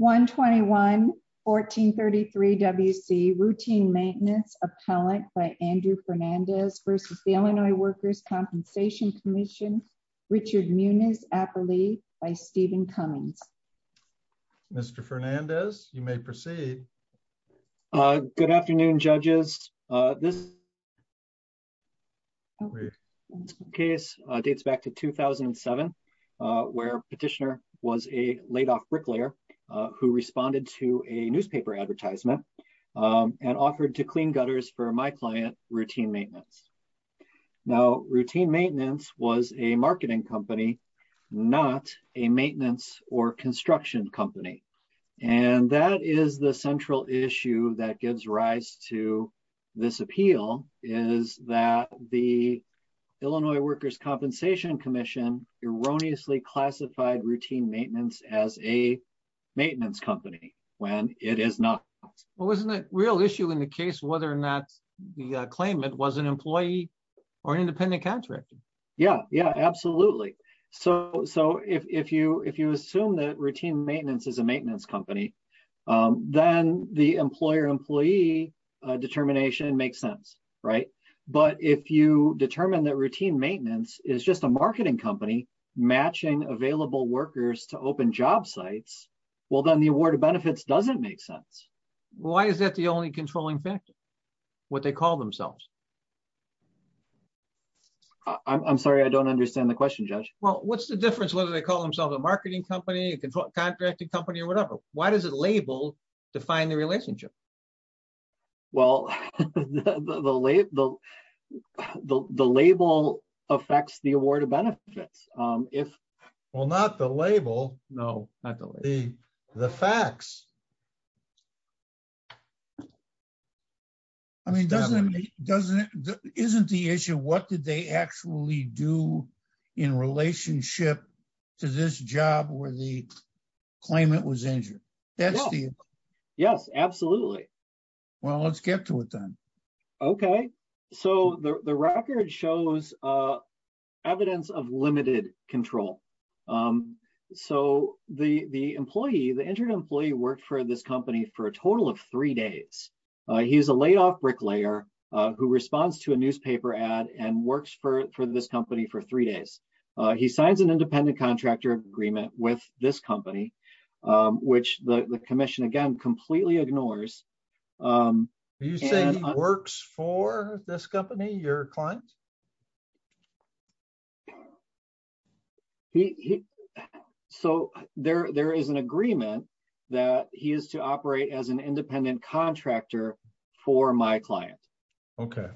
121-1433 WC Routine Maintenance Appellant by Andrew Fernandez v. Illinois Workers' Compensation Comm'n Richard Muniz-Apperly v. Stephen Cummings Mr. Fernandez, you may proceed. Good afternoon, judges. This who responded to a newspaper advertisement and offered to clean gutters for my client, Routine Maintenance. Now, Routine Maintenance was a marketing company, not a maintenance or construction company. And that is the central issue that gives rise to this appeal, is that the Illinois Workers' Compensation Commission erroneously classified Routine Maintenance as a maintenance company when it is not. Well, isn't it a real issue in the case whether or not the claimant was an employee or an independent contractor? Yeah, yeah, absolutely. So if you assume that Routine Maintenance is a maintenance company, then the employer-employee determination makes sense, right? But if you determine that Routine Maintenance is just a marketing company matching available workers to open job sites, well, then the award of benefits doesn't make sense. Why is that the only controlling factor, what they call themselves? I'm sorry, I don't understand the question, Judge. Well, what's the difference whether they call themselves a marketing company, a contracting company, or whatever? Why does the label define the relationship? Well, the label affects the award of benefits. Well, not the label. No, not the label. The facts. I mean, isn't the issue what did they actually do in relationship to this job where the Yes, absolutely. Well, let's get to it then. Okay, so the record shows evidence of limited control. So the employee, the injured employee worked for this company for a total of three days. He's a laid off bricklayer who responds to a newspaper ad and works for this company for three days. He signs an independent contractor agreement with this company, which the commission again, completely ignores. You say he works for this company, your client? So there is an agreement that he is to operate as an independent contractor for my client. Okay.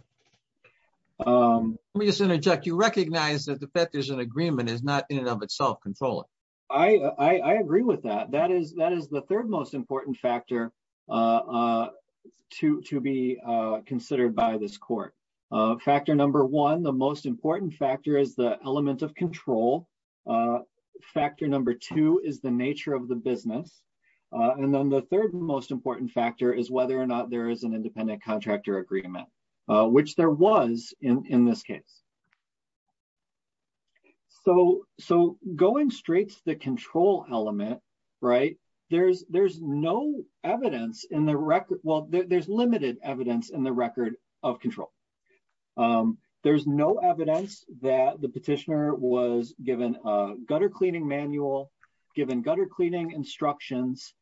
Let me just interject, you recognize that the fact there's an agreement is not in and of itself controlling. I agree with that. That is the third most important factor to be considered by this court. Factor number one, the most important factor is the element of control. Factor number two is the nature of the business. And then the third most important factor is whether or not there is an independent contractor agreement, which there was in this case. So going straight to the control element, right? There's no evidence in the record. Well, there's limited evidence in the record of control. There's no evidence that the petitioner was given a gutter cleaning manual, given gutter cleaning instructions,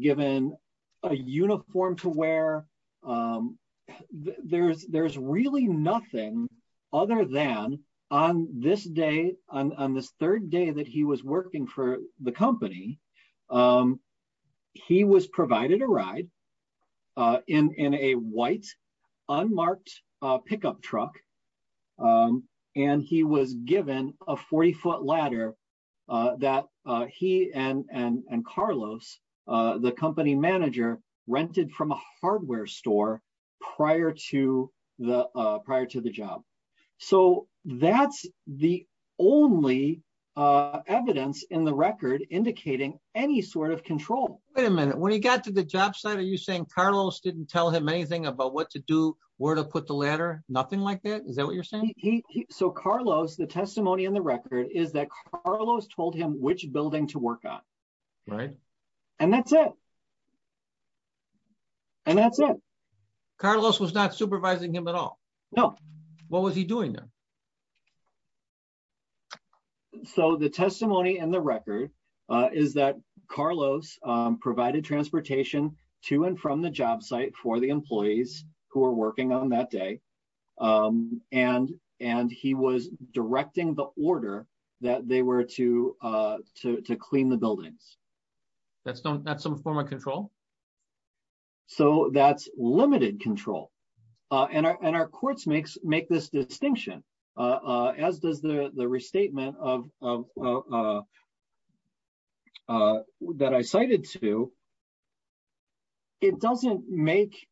given a uniform to wear. There's really nothing other than on this day, on this third day that he was working for the company, he was provided a ride in a white unmarked pickup truck. And he was given a 40 foot ladder that he and Carlos, the company manager rented from a prior to the job. So that's the only evidence in the record indicating any sort of control. Wait a minute. When he got to the job site, are you saying Carlos didn't tell him anything about what to do, where to put the ladder? Nothing like that? Is that what you're saying? So Carlos, the testimony in the record is that Carlos told him which building to work on. Right. And that's it. And that's it. Carlos was not supervising him at all? No. What was he doing then? So the testimony in the record is that Carlos provided transportation to and from the job site for the employees who are working on that day. And he was directing the order that they were to clean the buildings. That's not some form of control? So that's limited control. And our courts make this distinction, as does the restatement that I cited to. It doesn't make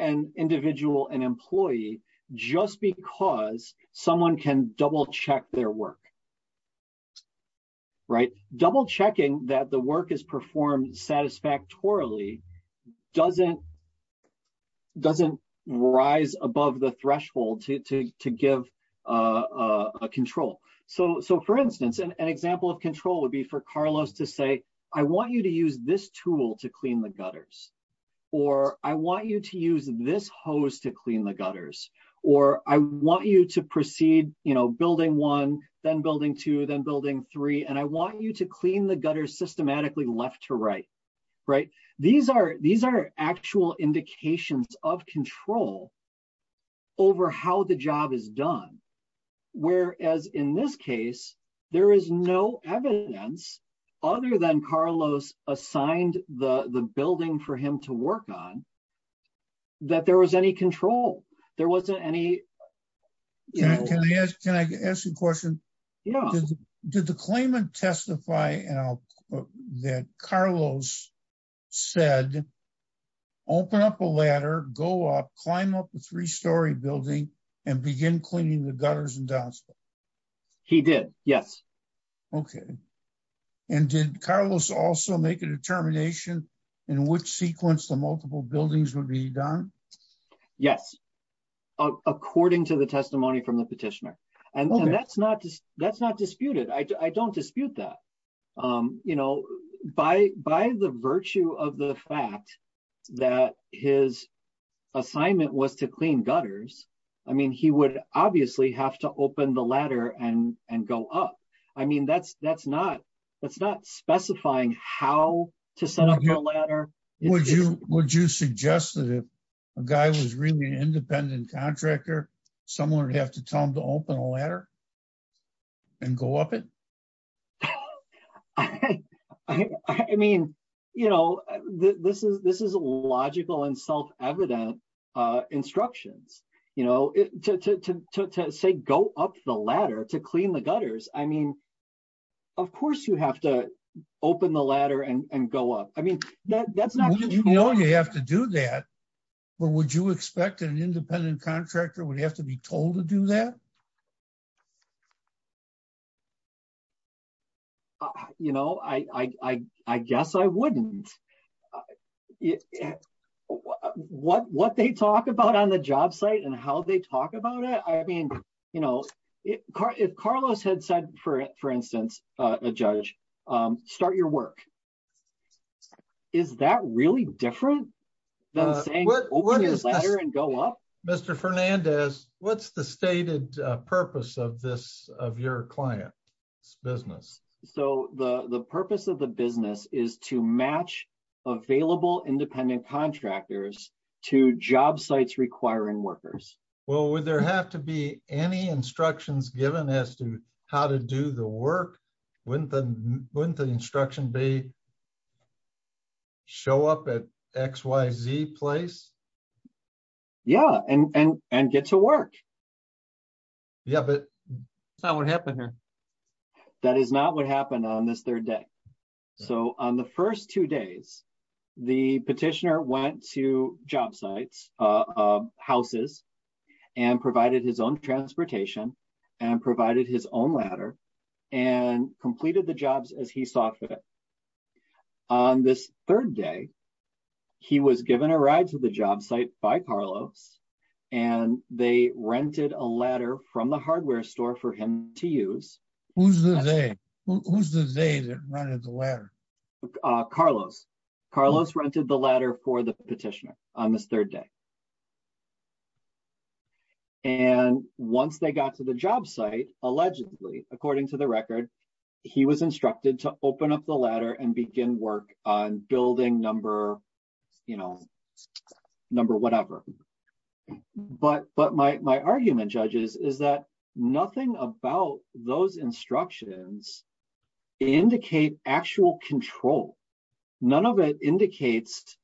an individual an employee just because someone can double check their work. Double checking that the work is performed satisfactorily doesn't rise above the threshold to give control. So for instance, an example of control would be for Carlos to say, I want you to use this tool to clean the gutters. Or I want you to use this hose to clean the then building two, then building three. And I want you to clean the gutters systematically left to right. Right? These are actual indications of control over how the job is done. Whereas in this case, there is no evidence other than Carlos assigned the building for him to work on that there was any control. There wasn't any. Yeah. Can I ask you a question? Did the claimant testify that Carlos said, open up a ladder, go up, climb up the three-story building and begin cleaning the gutters and downstairs? He did. Yes. Okay. And did Carlos also make a determination in which sequence the testimony from the petitioner? And that's not disputed. I don't dispute that. By the virtue of the fact that his assignment was to clean gutters, I mean, he would obviously have to open the ladder and go up. I mean, that's not specifying how to set up a ladder. Would you suggest that if a guy was really an independent contractor, someone would have to tell him to open a ladder and go up it? I mean, you know, this is a logical and self-evident instructions, you know, to say, go up the ladder to clean the gutters. I mean, of course, you have to expect an independent contractor would have to be told to do that. You know, I guess I wouldn't. What they talk about on the job site and how they talk about it, I mean, you know, if Carlos had said, for instance, a judge, start your work. Is that really different than saying, open the ladder and go up? Mr. Fernandez, what's the stated purpose of this, of your client's business? So the purpose of the business is to match available independent contractors to job sites requiring workers. Well, would there have to be any instructions given as to how to do the work? Wouldn't the instruction be to show up at XYZ place? Yeah, and get to work. Yeah, but that's not what happened here. That is not what happened on this third day. So on the first two days, the petitioner went to job sites, houses, and provided his own transportation and provided his own ladder and completed the jobs as he saw fit. On this third day, he was given a ride to the job site by Carlos and they rented a ladder from the hardware store for him to use. Who's the they? Who's the they that rented the ladder? Carlos. Carlos rented the ladder for the petitioner on this third day. And once they got to the job site, allegedly, according to the record, he was instructed to open up the ladder and begin work on building number whatever. But my argument, judges, is that nothing about those instructions indicate actual control. None of it indicates,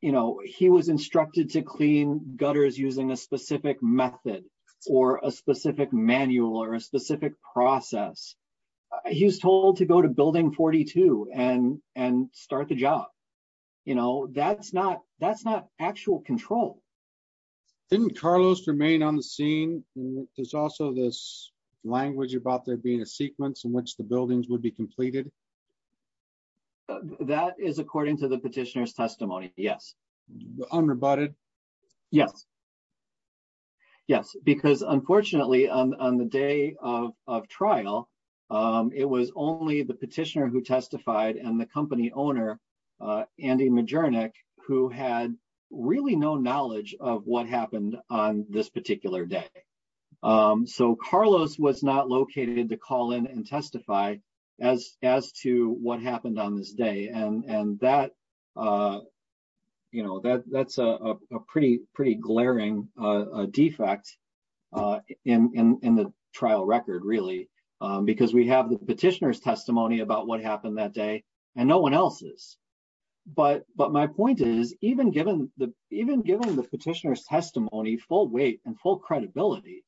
you know, he was instructed to clean gutters using a specific method or a specific manual or a specific process. He was told to go to building 42 and start the job. You know, that's not actual control. Didn't Carlos remain on the scene? There's also this language about there being a sequence in which the buildings would be completed. That is according to the petitioner's testimony. Yes. Unrebutted? Yes. Yes, because unfortunately, on the day of trial, it was only the petitioner who testified and the company owner, Andy Majernik, who had really no knowledge of what happened on this particular day. So Carlos was not located to call in and testify as to what happened on this day. And that, you know, that's a pretty glaring defect in the trial record, really, because we have the petitioner's testimony about what happened that day and no one else's. But my point is, even given the petitioner's testimony, full weight and full credibility,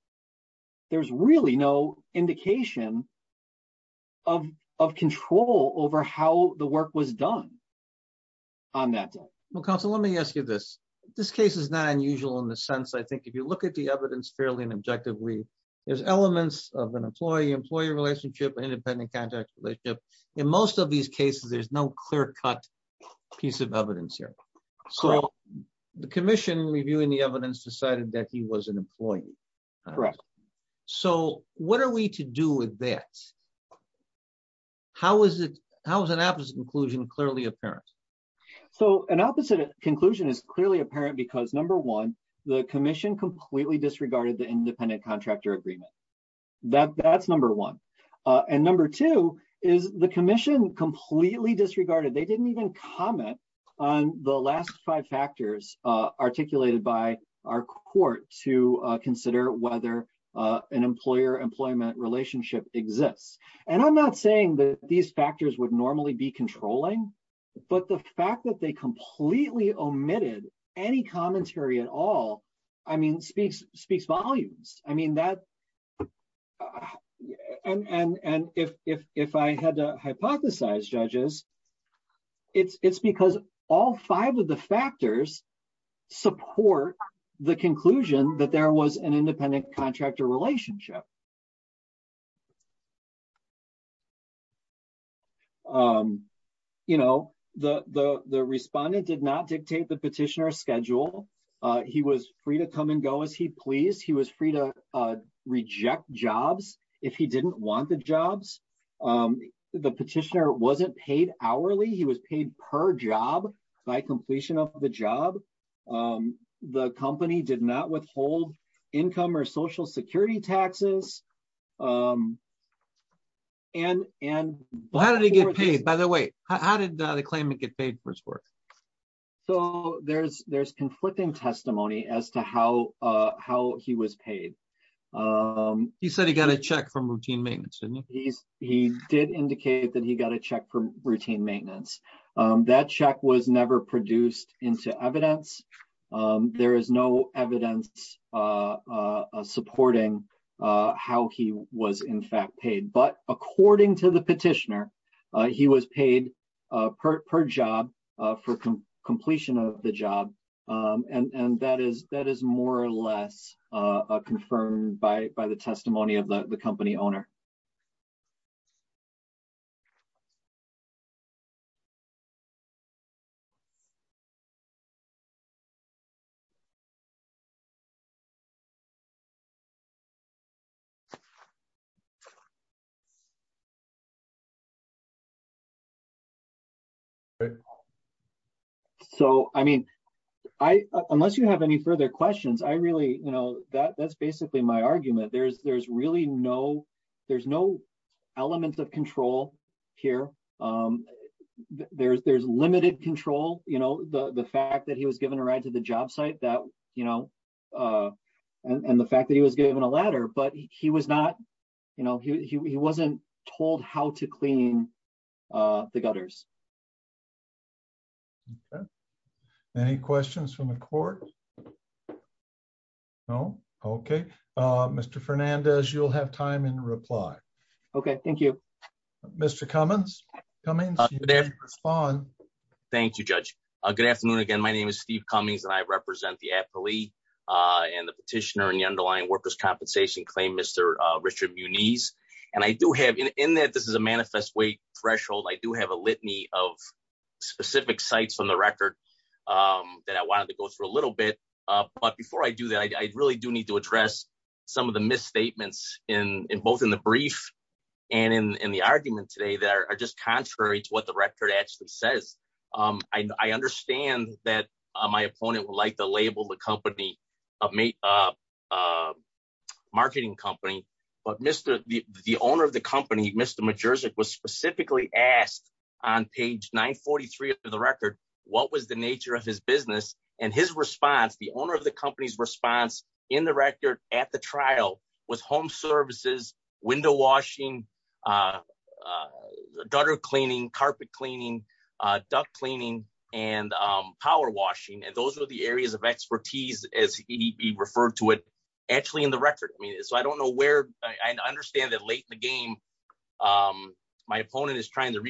there's really no indication of control over how the work was done on that day. Well, counsel, let me ask you this. This case is not unusual in the sense, I think, if you look at the evidence fairly and objectively, there's elements of an employee-employee relationship, independent contact relationship. In most of these cases, there's no clear-cut piece of evidence here. So the commission, reviewing the evidence, decided that he was an employee. Correct. So what are we to do with that? How is an opposite conclusion clearly apparent? So an opposite conclusion is clearly apparent because, number one, the commission completely disregarded the independent contractor agreement. That's number one. And number two is the commission completely disregarded. They didn't even comment on the last five factors articulated by our court to consider whether an employer-employment relationship exists. And I'm not saying that these factors would normally be controlling, but the fact that they completely omitted any commentary at all speaks volumes. And if I had to hypothesize, judges, it's because all five of the factors support the conclusion that there was an independent He was free to come and go as he pleased. He was free to reject jobs if he didn't want the jobs. The petitioner wasn't paid hourly. He was paid per job by completion of the job. The company did not withhold income or social security taxes. How did he get paid, by the way? How did the claimant get paid for his work? So there's conflicting testimony as to how he was paid. He said he got a check from routine maintenance, didn't he? He did indicate that he got a check from routine maintenance. That check was never produced into evidence. There is no evidence supporting how he was in fact paid. But according to the petitioner, he was paid per job for completion of the job. And that is more or less confirmed by the testimony of the company owner. Okay. So, I mean, unless you have any further questions, that's basically my argument. There's no element of control here. There's limited control. The fact that he was given a ride to the job site and the fact that he was given a ladder, but he wasn't told how to clean the gutters. Any questions from the court? No? Okay. Mr. Fernandez, you'll have time in reply. Okay. Thank you. Mr. Cummings, you may respond. Thank you, Judge. Good afternoon again. My name is Steve Cummings and I represent the appellee and the petitioner and the underlying workers' compensation claim, Mr. Richard Muniz. And I do have, in that this is a manifest weight threshold, I do have a litany of specific sites on the record that I wanted to go through a little bit. But before I do that, I really do need to address some of the misstatements in both in the brief and in the argument today that are just contrary to what the record actually says. I understand that my the owner of the company, Mr. Majerzyk, was specifically asked on page 943 of the record, what was the nature of his business? And his response, the owner of the company's response in the record at the trial was home services, window washing, gutter cleaning, carpet cleaning, duct cleaning, and power washing. And those were the areas of expertise as he referred to it, actually in the record. I mean, so I don't know where, I understand that late in the game, my opponent is trying to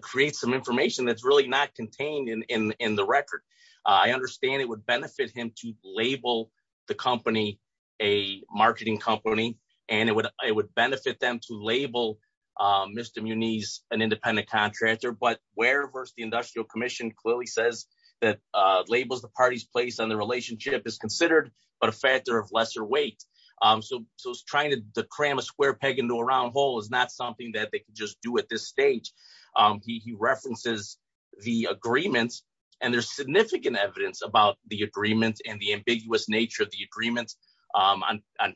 create some information that's really not contained in the record. I understand it would benefit him to label the company, a marketing company, and it would benefit them to label Mr. Muniz an independent contractor. But where versus the industrial commission clearly says that labels the party's place on the relationship is considered but a factor of lesser weight. So trying to cram a square peg into a round hole is not something that they could just do at this stage. He references the agreements, and there's significant evidence about the agreement and the ambiguous nature of the agreements. On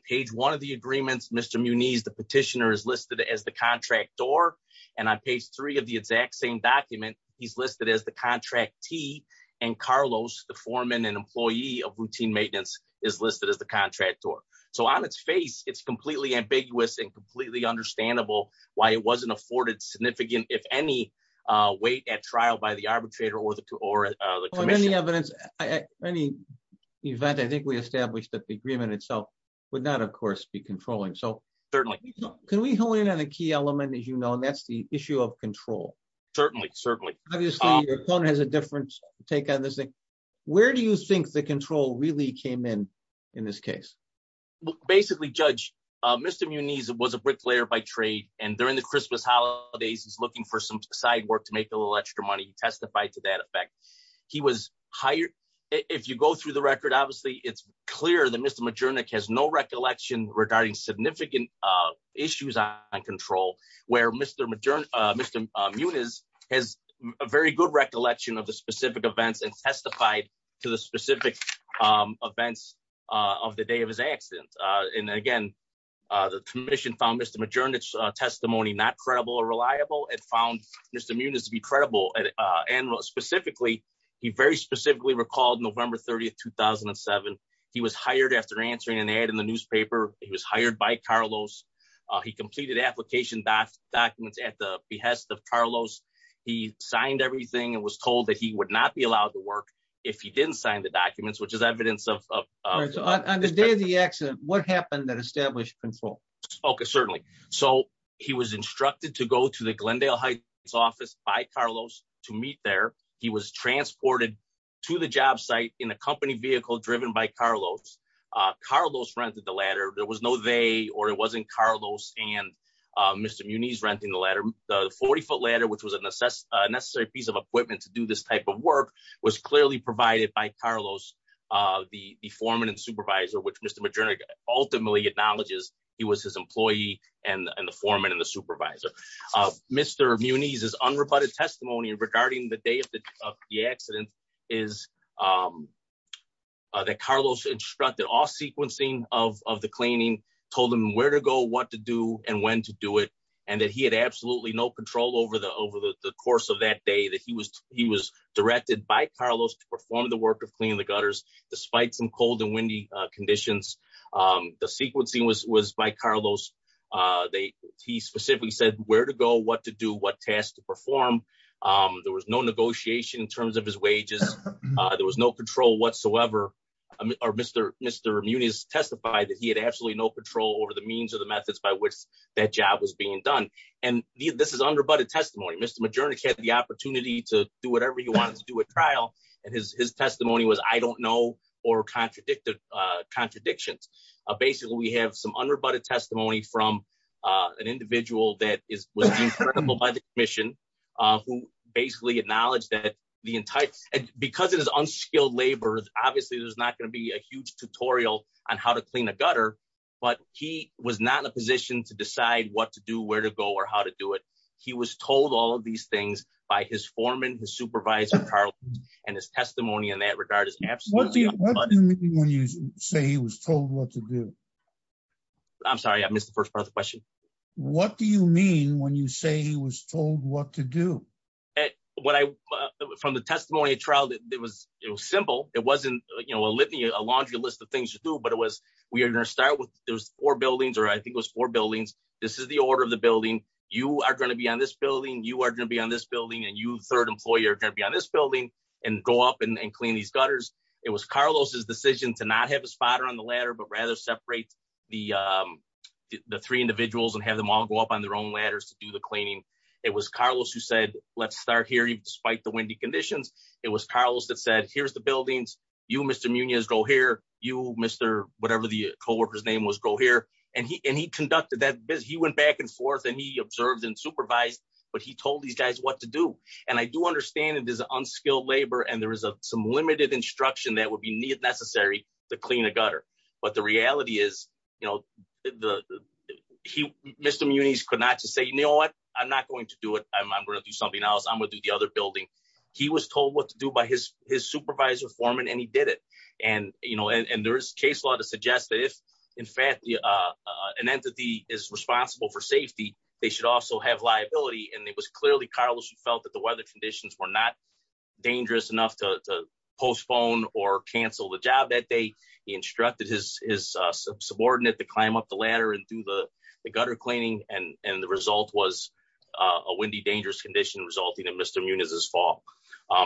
page one of the agreements, Mr. Muniz, the petitioner, is listed as the contractor. And on page three of the exact same document, he's listed as the contractee. And Carlos, the foreman and employee of routine maintenance, is listed as the contractor. So on its face, it's completely ambiguous and completely understandable why it wasn't afforded significant, if any, weight at trial by the arbitrator or the commission. In any event, I think we established that the agreement itself would not, of course, be controlling. Certainly. So can we hone in on a key element, as you know, that's the issue of control? Certainly, certainly. Obviously, your opponent has a different take on this thing. Where do you think the control really came in, in this case? Well, basically, Judge, Mr. Muniz was a bricklayer by trade. And during the Christmas holidays, he's looking for some side work to make a little extra money. He testified to that effect. He was hired. If you go through the record, obviously, it's clear that Mr. Majernik has no recollection regarding significant issues on control, where Mr. Muniz has a very good recollection of the specific events and testified to the specific events of the day of his accident. And again, the commission found Mr. Majernik's testimony not credible or reliable. It found Mr. Muniz to be credible. And specifically, he very specifically recalled November 30, 2007. He was hired after answering an ad in the newspaper. He was hired by Carlos. He completed application documents at the behest of Carlos. He signed everything and was told that he would not be allowed to work if he didn't sign the documents, which is evidence of... On the day of the accident, what happened that established control? Okay, certainly. So he was instructed to go to the Glendale Heights office by Carlos to meet there. He was transported to the job site in a company vehicle driven by Carlos. Carlos rented the ladder. There was no they, or it wasn't Carlos and Mr. Muniz renting the ladder. The 40-foot ladder, which was a necessary piece of equipment to do this type of work, was clearly provided by Carlos, the foreman and supervisor, which Mr. Majernik ultimately acknowledges he was his employee and the foreman and the supervisor. Mr. Muniz's unrebutted testimony regarding the day of the accident is that Carlos instructed all sequencing of the cleaning, told him where to go, what to do, and when to do it, and that he had absolutely no control over the course of that day, that he was directed by Carlos to perform the work of cleaning the gutters despite some cold and windy conditions. The sequencing was by Carlos. He specifically said where to go, what to do, what tasks to perform. There was no negotiation in terms of his wages. There was no control whatsoever. Mr. Muniz testified that he had absolutely no control over the means or the methods by which that job was being done. And this is unrebutted testimony. Mr. Majernik had the opportunity to do whatever he wanted to do at trial, and his testimony was, I don't know or contradicted contradictions. Basically, we have some unrebutted testimony from an individual that was deemed credible by the commission, who basically acknowledged that the entire, because it is unskilled labor, obviously there's not going to be a huge tutorial on how to clean a gutter, but he was not in a position to decide what to do, where to go, or how to do it. He was told all of these things by his foreman, his supervisor, Carlos, and his testimony in that when you say he was told what to do. I'm sorry, I missed the first part of the question. What do you mean when you say he was told what to do? From the testimony at trial, it was simple. It wasn't, you know, a laundry list of things to do, but it was, we are going to start with, there's four buildings, or I think it was four buildings. This is the order of the building. You are going to be on this building. You are going to be on this building, and you, third decision to not have a spotter on the ladder, but rather separate the three individuals and have them all go up on their own ladders to do the cleaning. It was Carlos who said, let's start here, despite the windy conditions. It was Carlos that said, here's the buildings. You, Mr. Munoz, go here. You, Mr., whatever the co-worker's name was, go here, and he conducted that. He went back and forth, and he observed and supervised, but he told these guys what to do, and I do understand it is unskilled labor, and there is some limited instruction that would be necessary to clean a gutter, but the reality is, you know, Mr. Munoz could not just say, you know what? I'm not going to do it. I'm going to do something else. I'm going to do the other building. He was told what to do by his supervisor foreman, and he did it, and, you know, and there is case law to suggest that if, in fact, an entity is responsible for safety, they should also have liability, and it was clearly Carlos who felt that the weather conditions were not dangerous enough to postpone or cancel the job that day. He instructed his subordinate to climb up the ladder and do the gutter cleaning, and the result was a windy, dangerous condition resulting in Mr. Munoz's fall,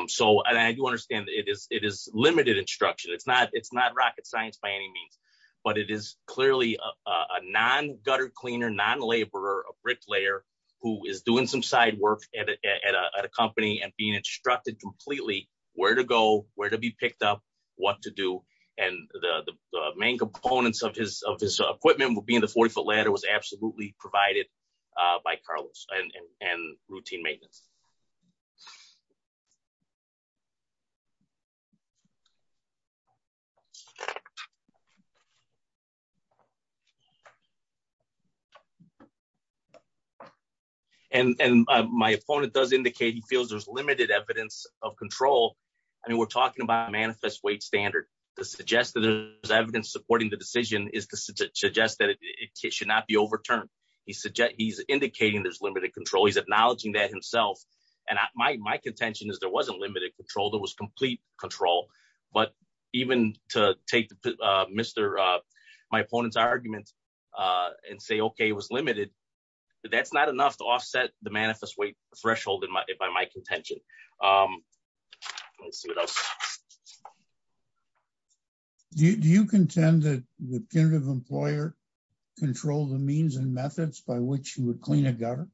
so I do understand it is limited instruction. It's not rocket science by any means, but it is clearly a non-gutter cleaner, non-laborer, a bricklayer who is doing some side work at a company and being instructed completely where to go, where to be picked up, what to do, and the main components of his equipment being the 40-foot ladder was absolutely provided by Carlos and routine maintenance, and my opponent does indicate he feels there's limited evidence of control. I mean, we're talking about a manifest weight standard. To suggest that there's evidence supporting the decision is to suggest that it should not be overturned. He's indicating there's limited control. He's acknowledging that himself, and my contention is there wasn't limited control. There was complete control, but even to take my opponent's argument and say, okay, it was limited, that's not enough to offset the manifest weight Do you contend that the punitive employer controlled the means and methods by which you would clean a gutter?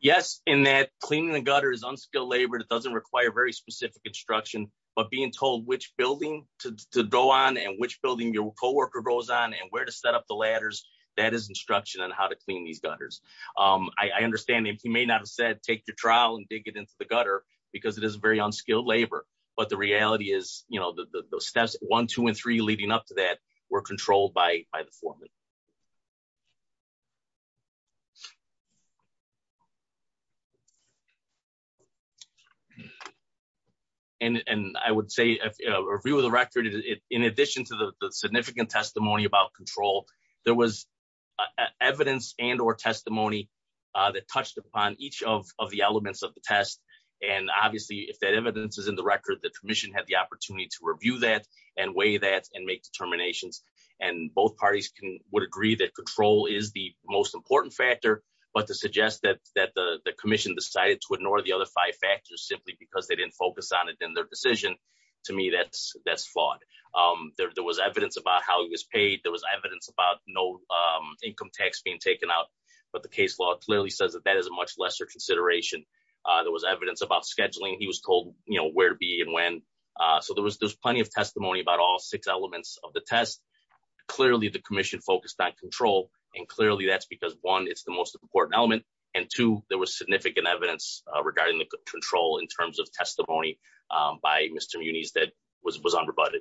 Yes, in that cleaning the gutter is unskilled labor. It doesn't require very specific instruction, but being told which building to go on and which building your co-worker goes on and where to set up the ladders, that is instruction on how to clean these gutters. I understand if you may not have said take your trowel and dig it into the gutter because it is unskilled labor, but the reality is the steps one, two, and three leading up to that were controlled by the foreman. I would say a review of the record, in addition to the significant testimony about control, there was evidence and or testimony that touched upon each of the elements of the test. Obviously, if that evidence is in the record, the commission had the opportunity to review that and weigh that and make determinations. Both parties would agree that control is the most important factor, but to suggest that the commission decided to ignore the other five factors simply because they didn't focus on it in their decision, to me, that's flawed. There was evidence about how it was paid. There was evidence about no income tax being taken out, but the case law clearly says that that is a much lesser consideration. There was evidence about scheduling. He was told where to be and when, so there was plenty of testimony about all six elements of the test. Clearly, the commission focused on control, and clearly that's because, one, it's the most important element, and two, there was significant evidence regarding the control in terms of testimony by Mr. Muniz that was unrebutted.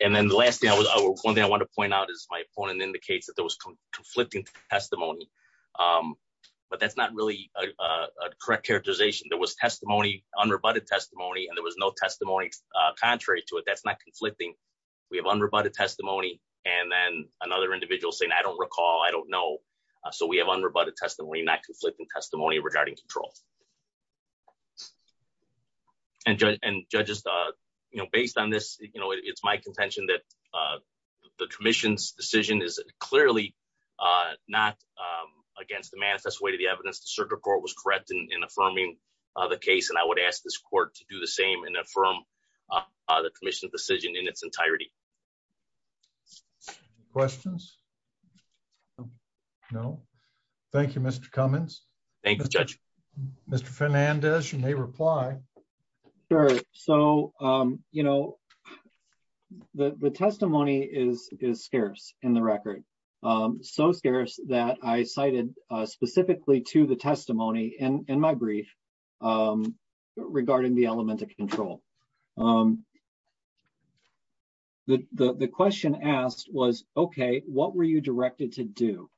And then the last thing, one thing I want to point out is my opponent indicates that there was conflicting testimony, but that's not really a correct characterization. There was testimony, unrebutted testimony, and there was no testimony contrary to it. That's not conflicting. We have unrebutted testimony, and then another individual saying, I don't recall, I don't know, so we have unrebutted testimony, not conflicting testimony regarding control. And judges, based on this, it's my contention that the commission's decision is clearly not against the manifest way to the evidence. The circuit court was correct in affirming the case, and I would ask this court to do the same and affirm the commission's decision in its entirety. Questions? No. Thank you, Mr. Cummins. Thanks, Judge. Mr. Fernandez, you may reply. Sure. So, you know, the testimony is scarce in the record, so scarce that I cited specifically to the testimony in my brief regarding the element of control. The question asked was, okay, what were you directed to do?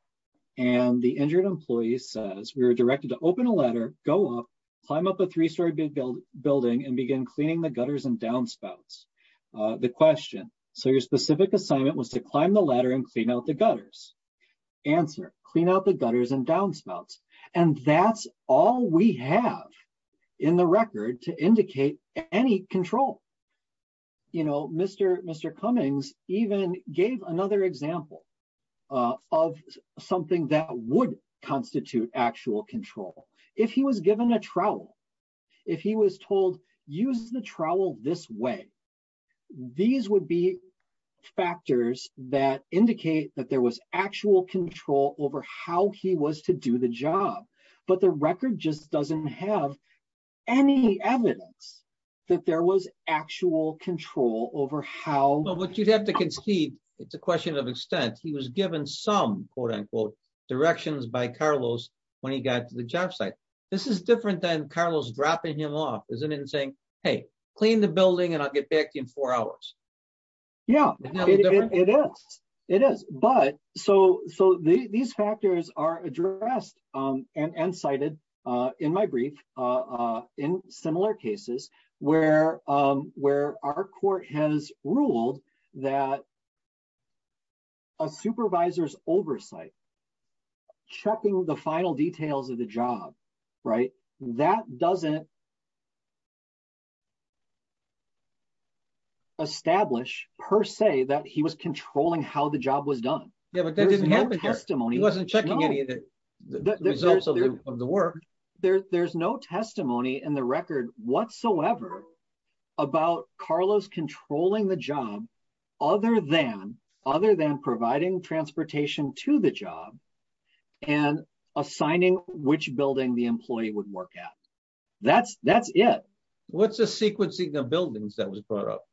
And the injured employee says, we were directed to open a ladder, go up, climb up a three-story building, and begin cleaning the gutters and downspouts. The question, so your specific assignment was to climb the ladder and clean out the gutters. Answer, clean out the gutters and downspouts. And that's all we have in the record to indicate any control. You know, Mr. Cummins even gave another example of something that would constitute actual control. If he was given a trowel, if he was told, use the trowel this way, these would be factors that indicate that there was actual control over how he was to do the job. But the record just doesn't have any evidence that there was actual control over how. Well, what you'd have to concede, it's a question of extent. He was given some, quote-unquote, directions by Carlos when he got to the job site. This is different than clean the building and I'll get back to you in four hours. Yeah, it is. But so these factors are addressed and cited in my brief in similar cases where our court has ruled that a supervisor's oversight, checking the final details of the job, that doesn't establish per se that he was controlling how the job was done. Yeah, but that didn't happen here. He wasn't checking any of the results of the work. There's no testimony in the record whatsoever about Carlos controlling the job other than providing transportation to the job and assigning which building the employee would work at. That's it. What's the sequencing of buildings that was brought up?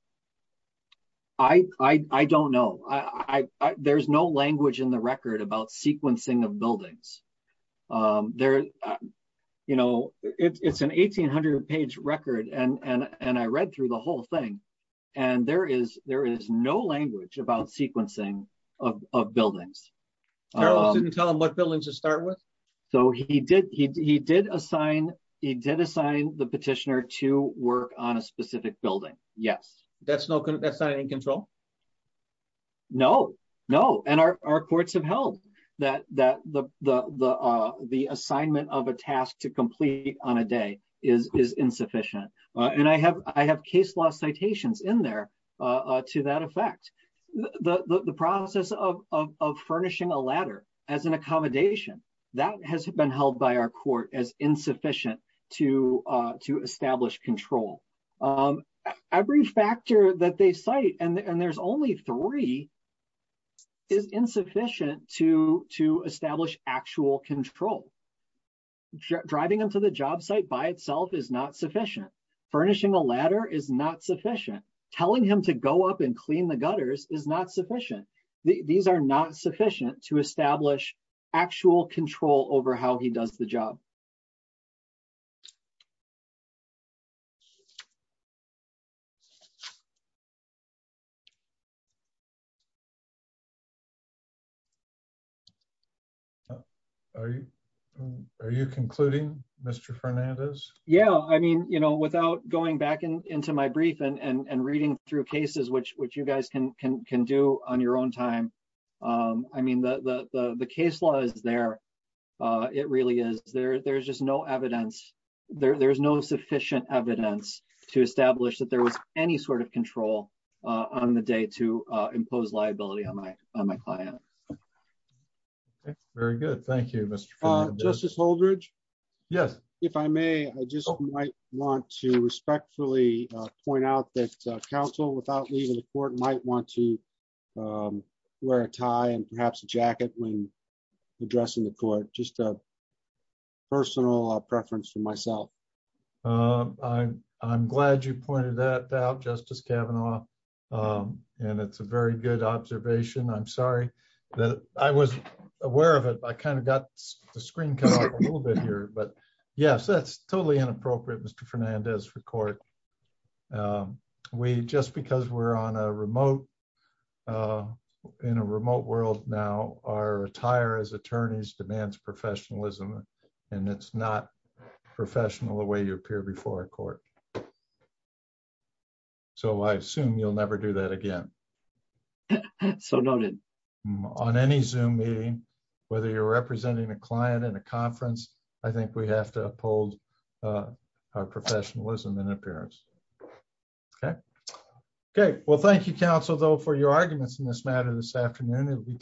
I don't know. There's no language in the record about sequencing of buildings. It's an 1800-page record and I read through the whole thing and there is no language about buildings. Carlos didn't tell him what buildings to start with? So he did assign the petitioner to work on a specific building, yes. That's not in control? No, no. And our courts have held that the assignment of a task to complete on a day is insufficient. And I have case law citations in there to that effect. The process of furnishing a ladder as an accommodation, that has been held by our court as insufficient to establish control. Every factor that they cite, and there's only three, is insufficient to establish actual control. Driving him to the job site by itself is not sufficient. Furnishing a ladder is not sufficient. Telling him to go up and clean the gutters is not sufficient. These are not sufficient to establish actual control over how he does the job. Are you concluding, Mr. Fernandez? Yeah, I mean, you know, without going back into my brief and reading through cases, which you guys can do on your own time, I mean, the case law is there. It really is. There's just no evidence. There's no sufficient evidence to establish that there was any sort of control on the day to impose liability on my client. Very good. Thank you, Mr. Fernandez. Justice Holdredge? Yes. If I may, I just might want to respectfully point out that counsel, without leaving the court, might want to wear a tie and perhaps a jacket when addressing the court. Just a personal preference for myself. I'm glad you pointed that out, Justice Kavanaugh, and it's a very good observation. I'm sorry that I wasn't aware of it. I kind of got the screen cut off a little bit here, but yes, that's totally inappropriate, Mr. Fernandez, for court. Just because we're in a remote world now, our attire as attorneys demands professionalism, and it's not professional the way you appear before a court. So I assume you'll never do that again. So noted. On any Zoom meeting, whether you're representing a client in a conference, I think we have to uphold our professionalism and appearance. Well, thank you, counsel, though, for your arguments in this matter this afternoon.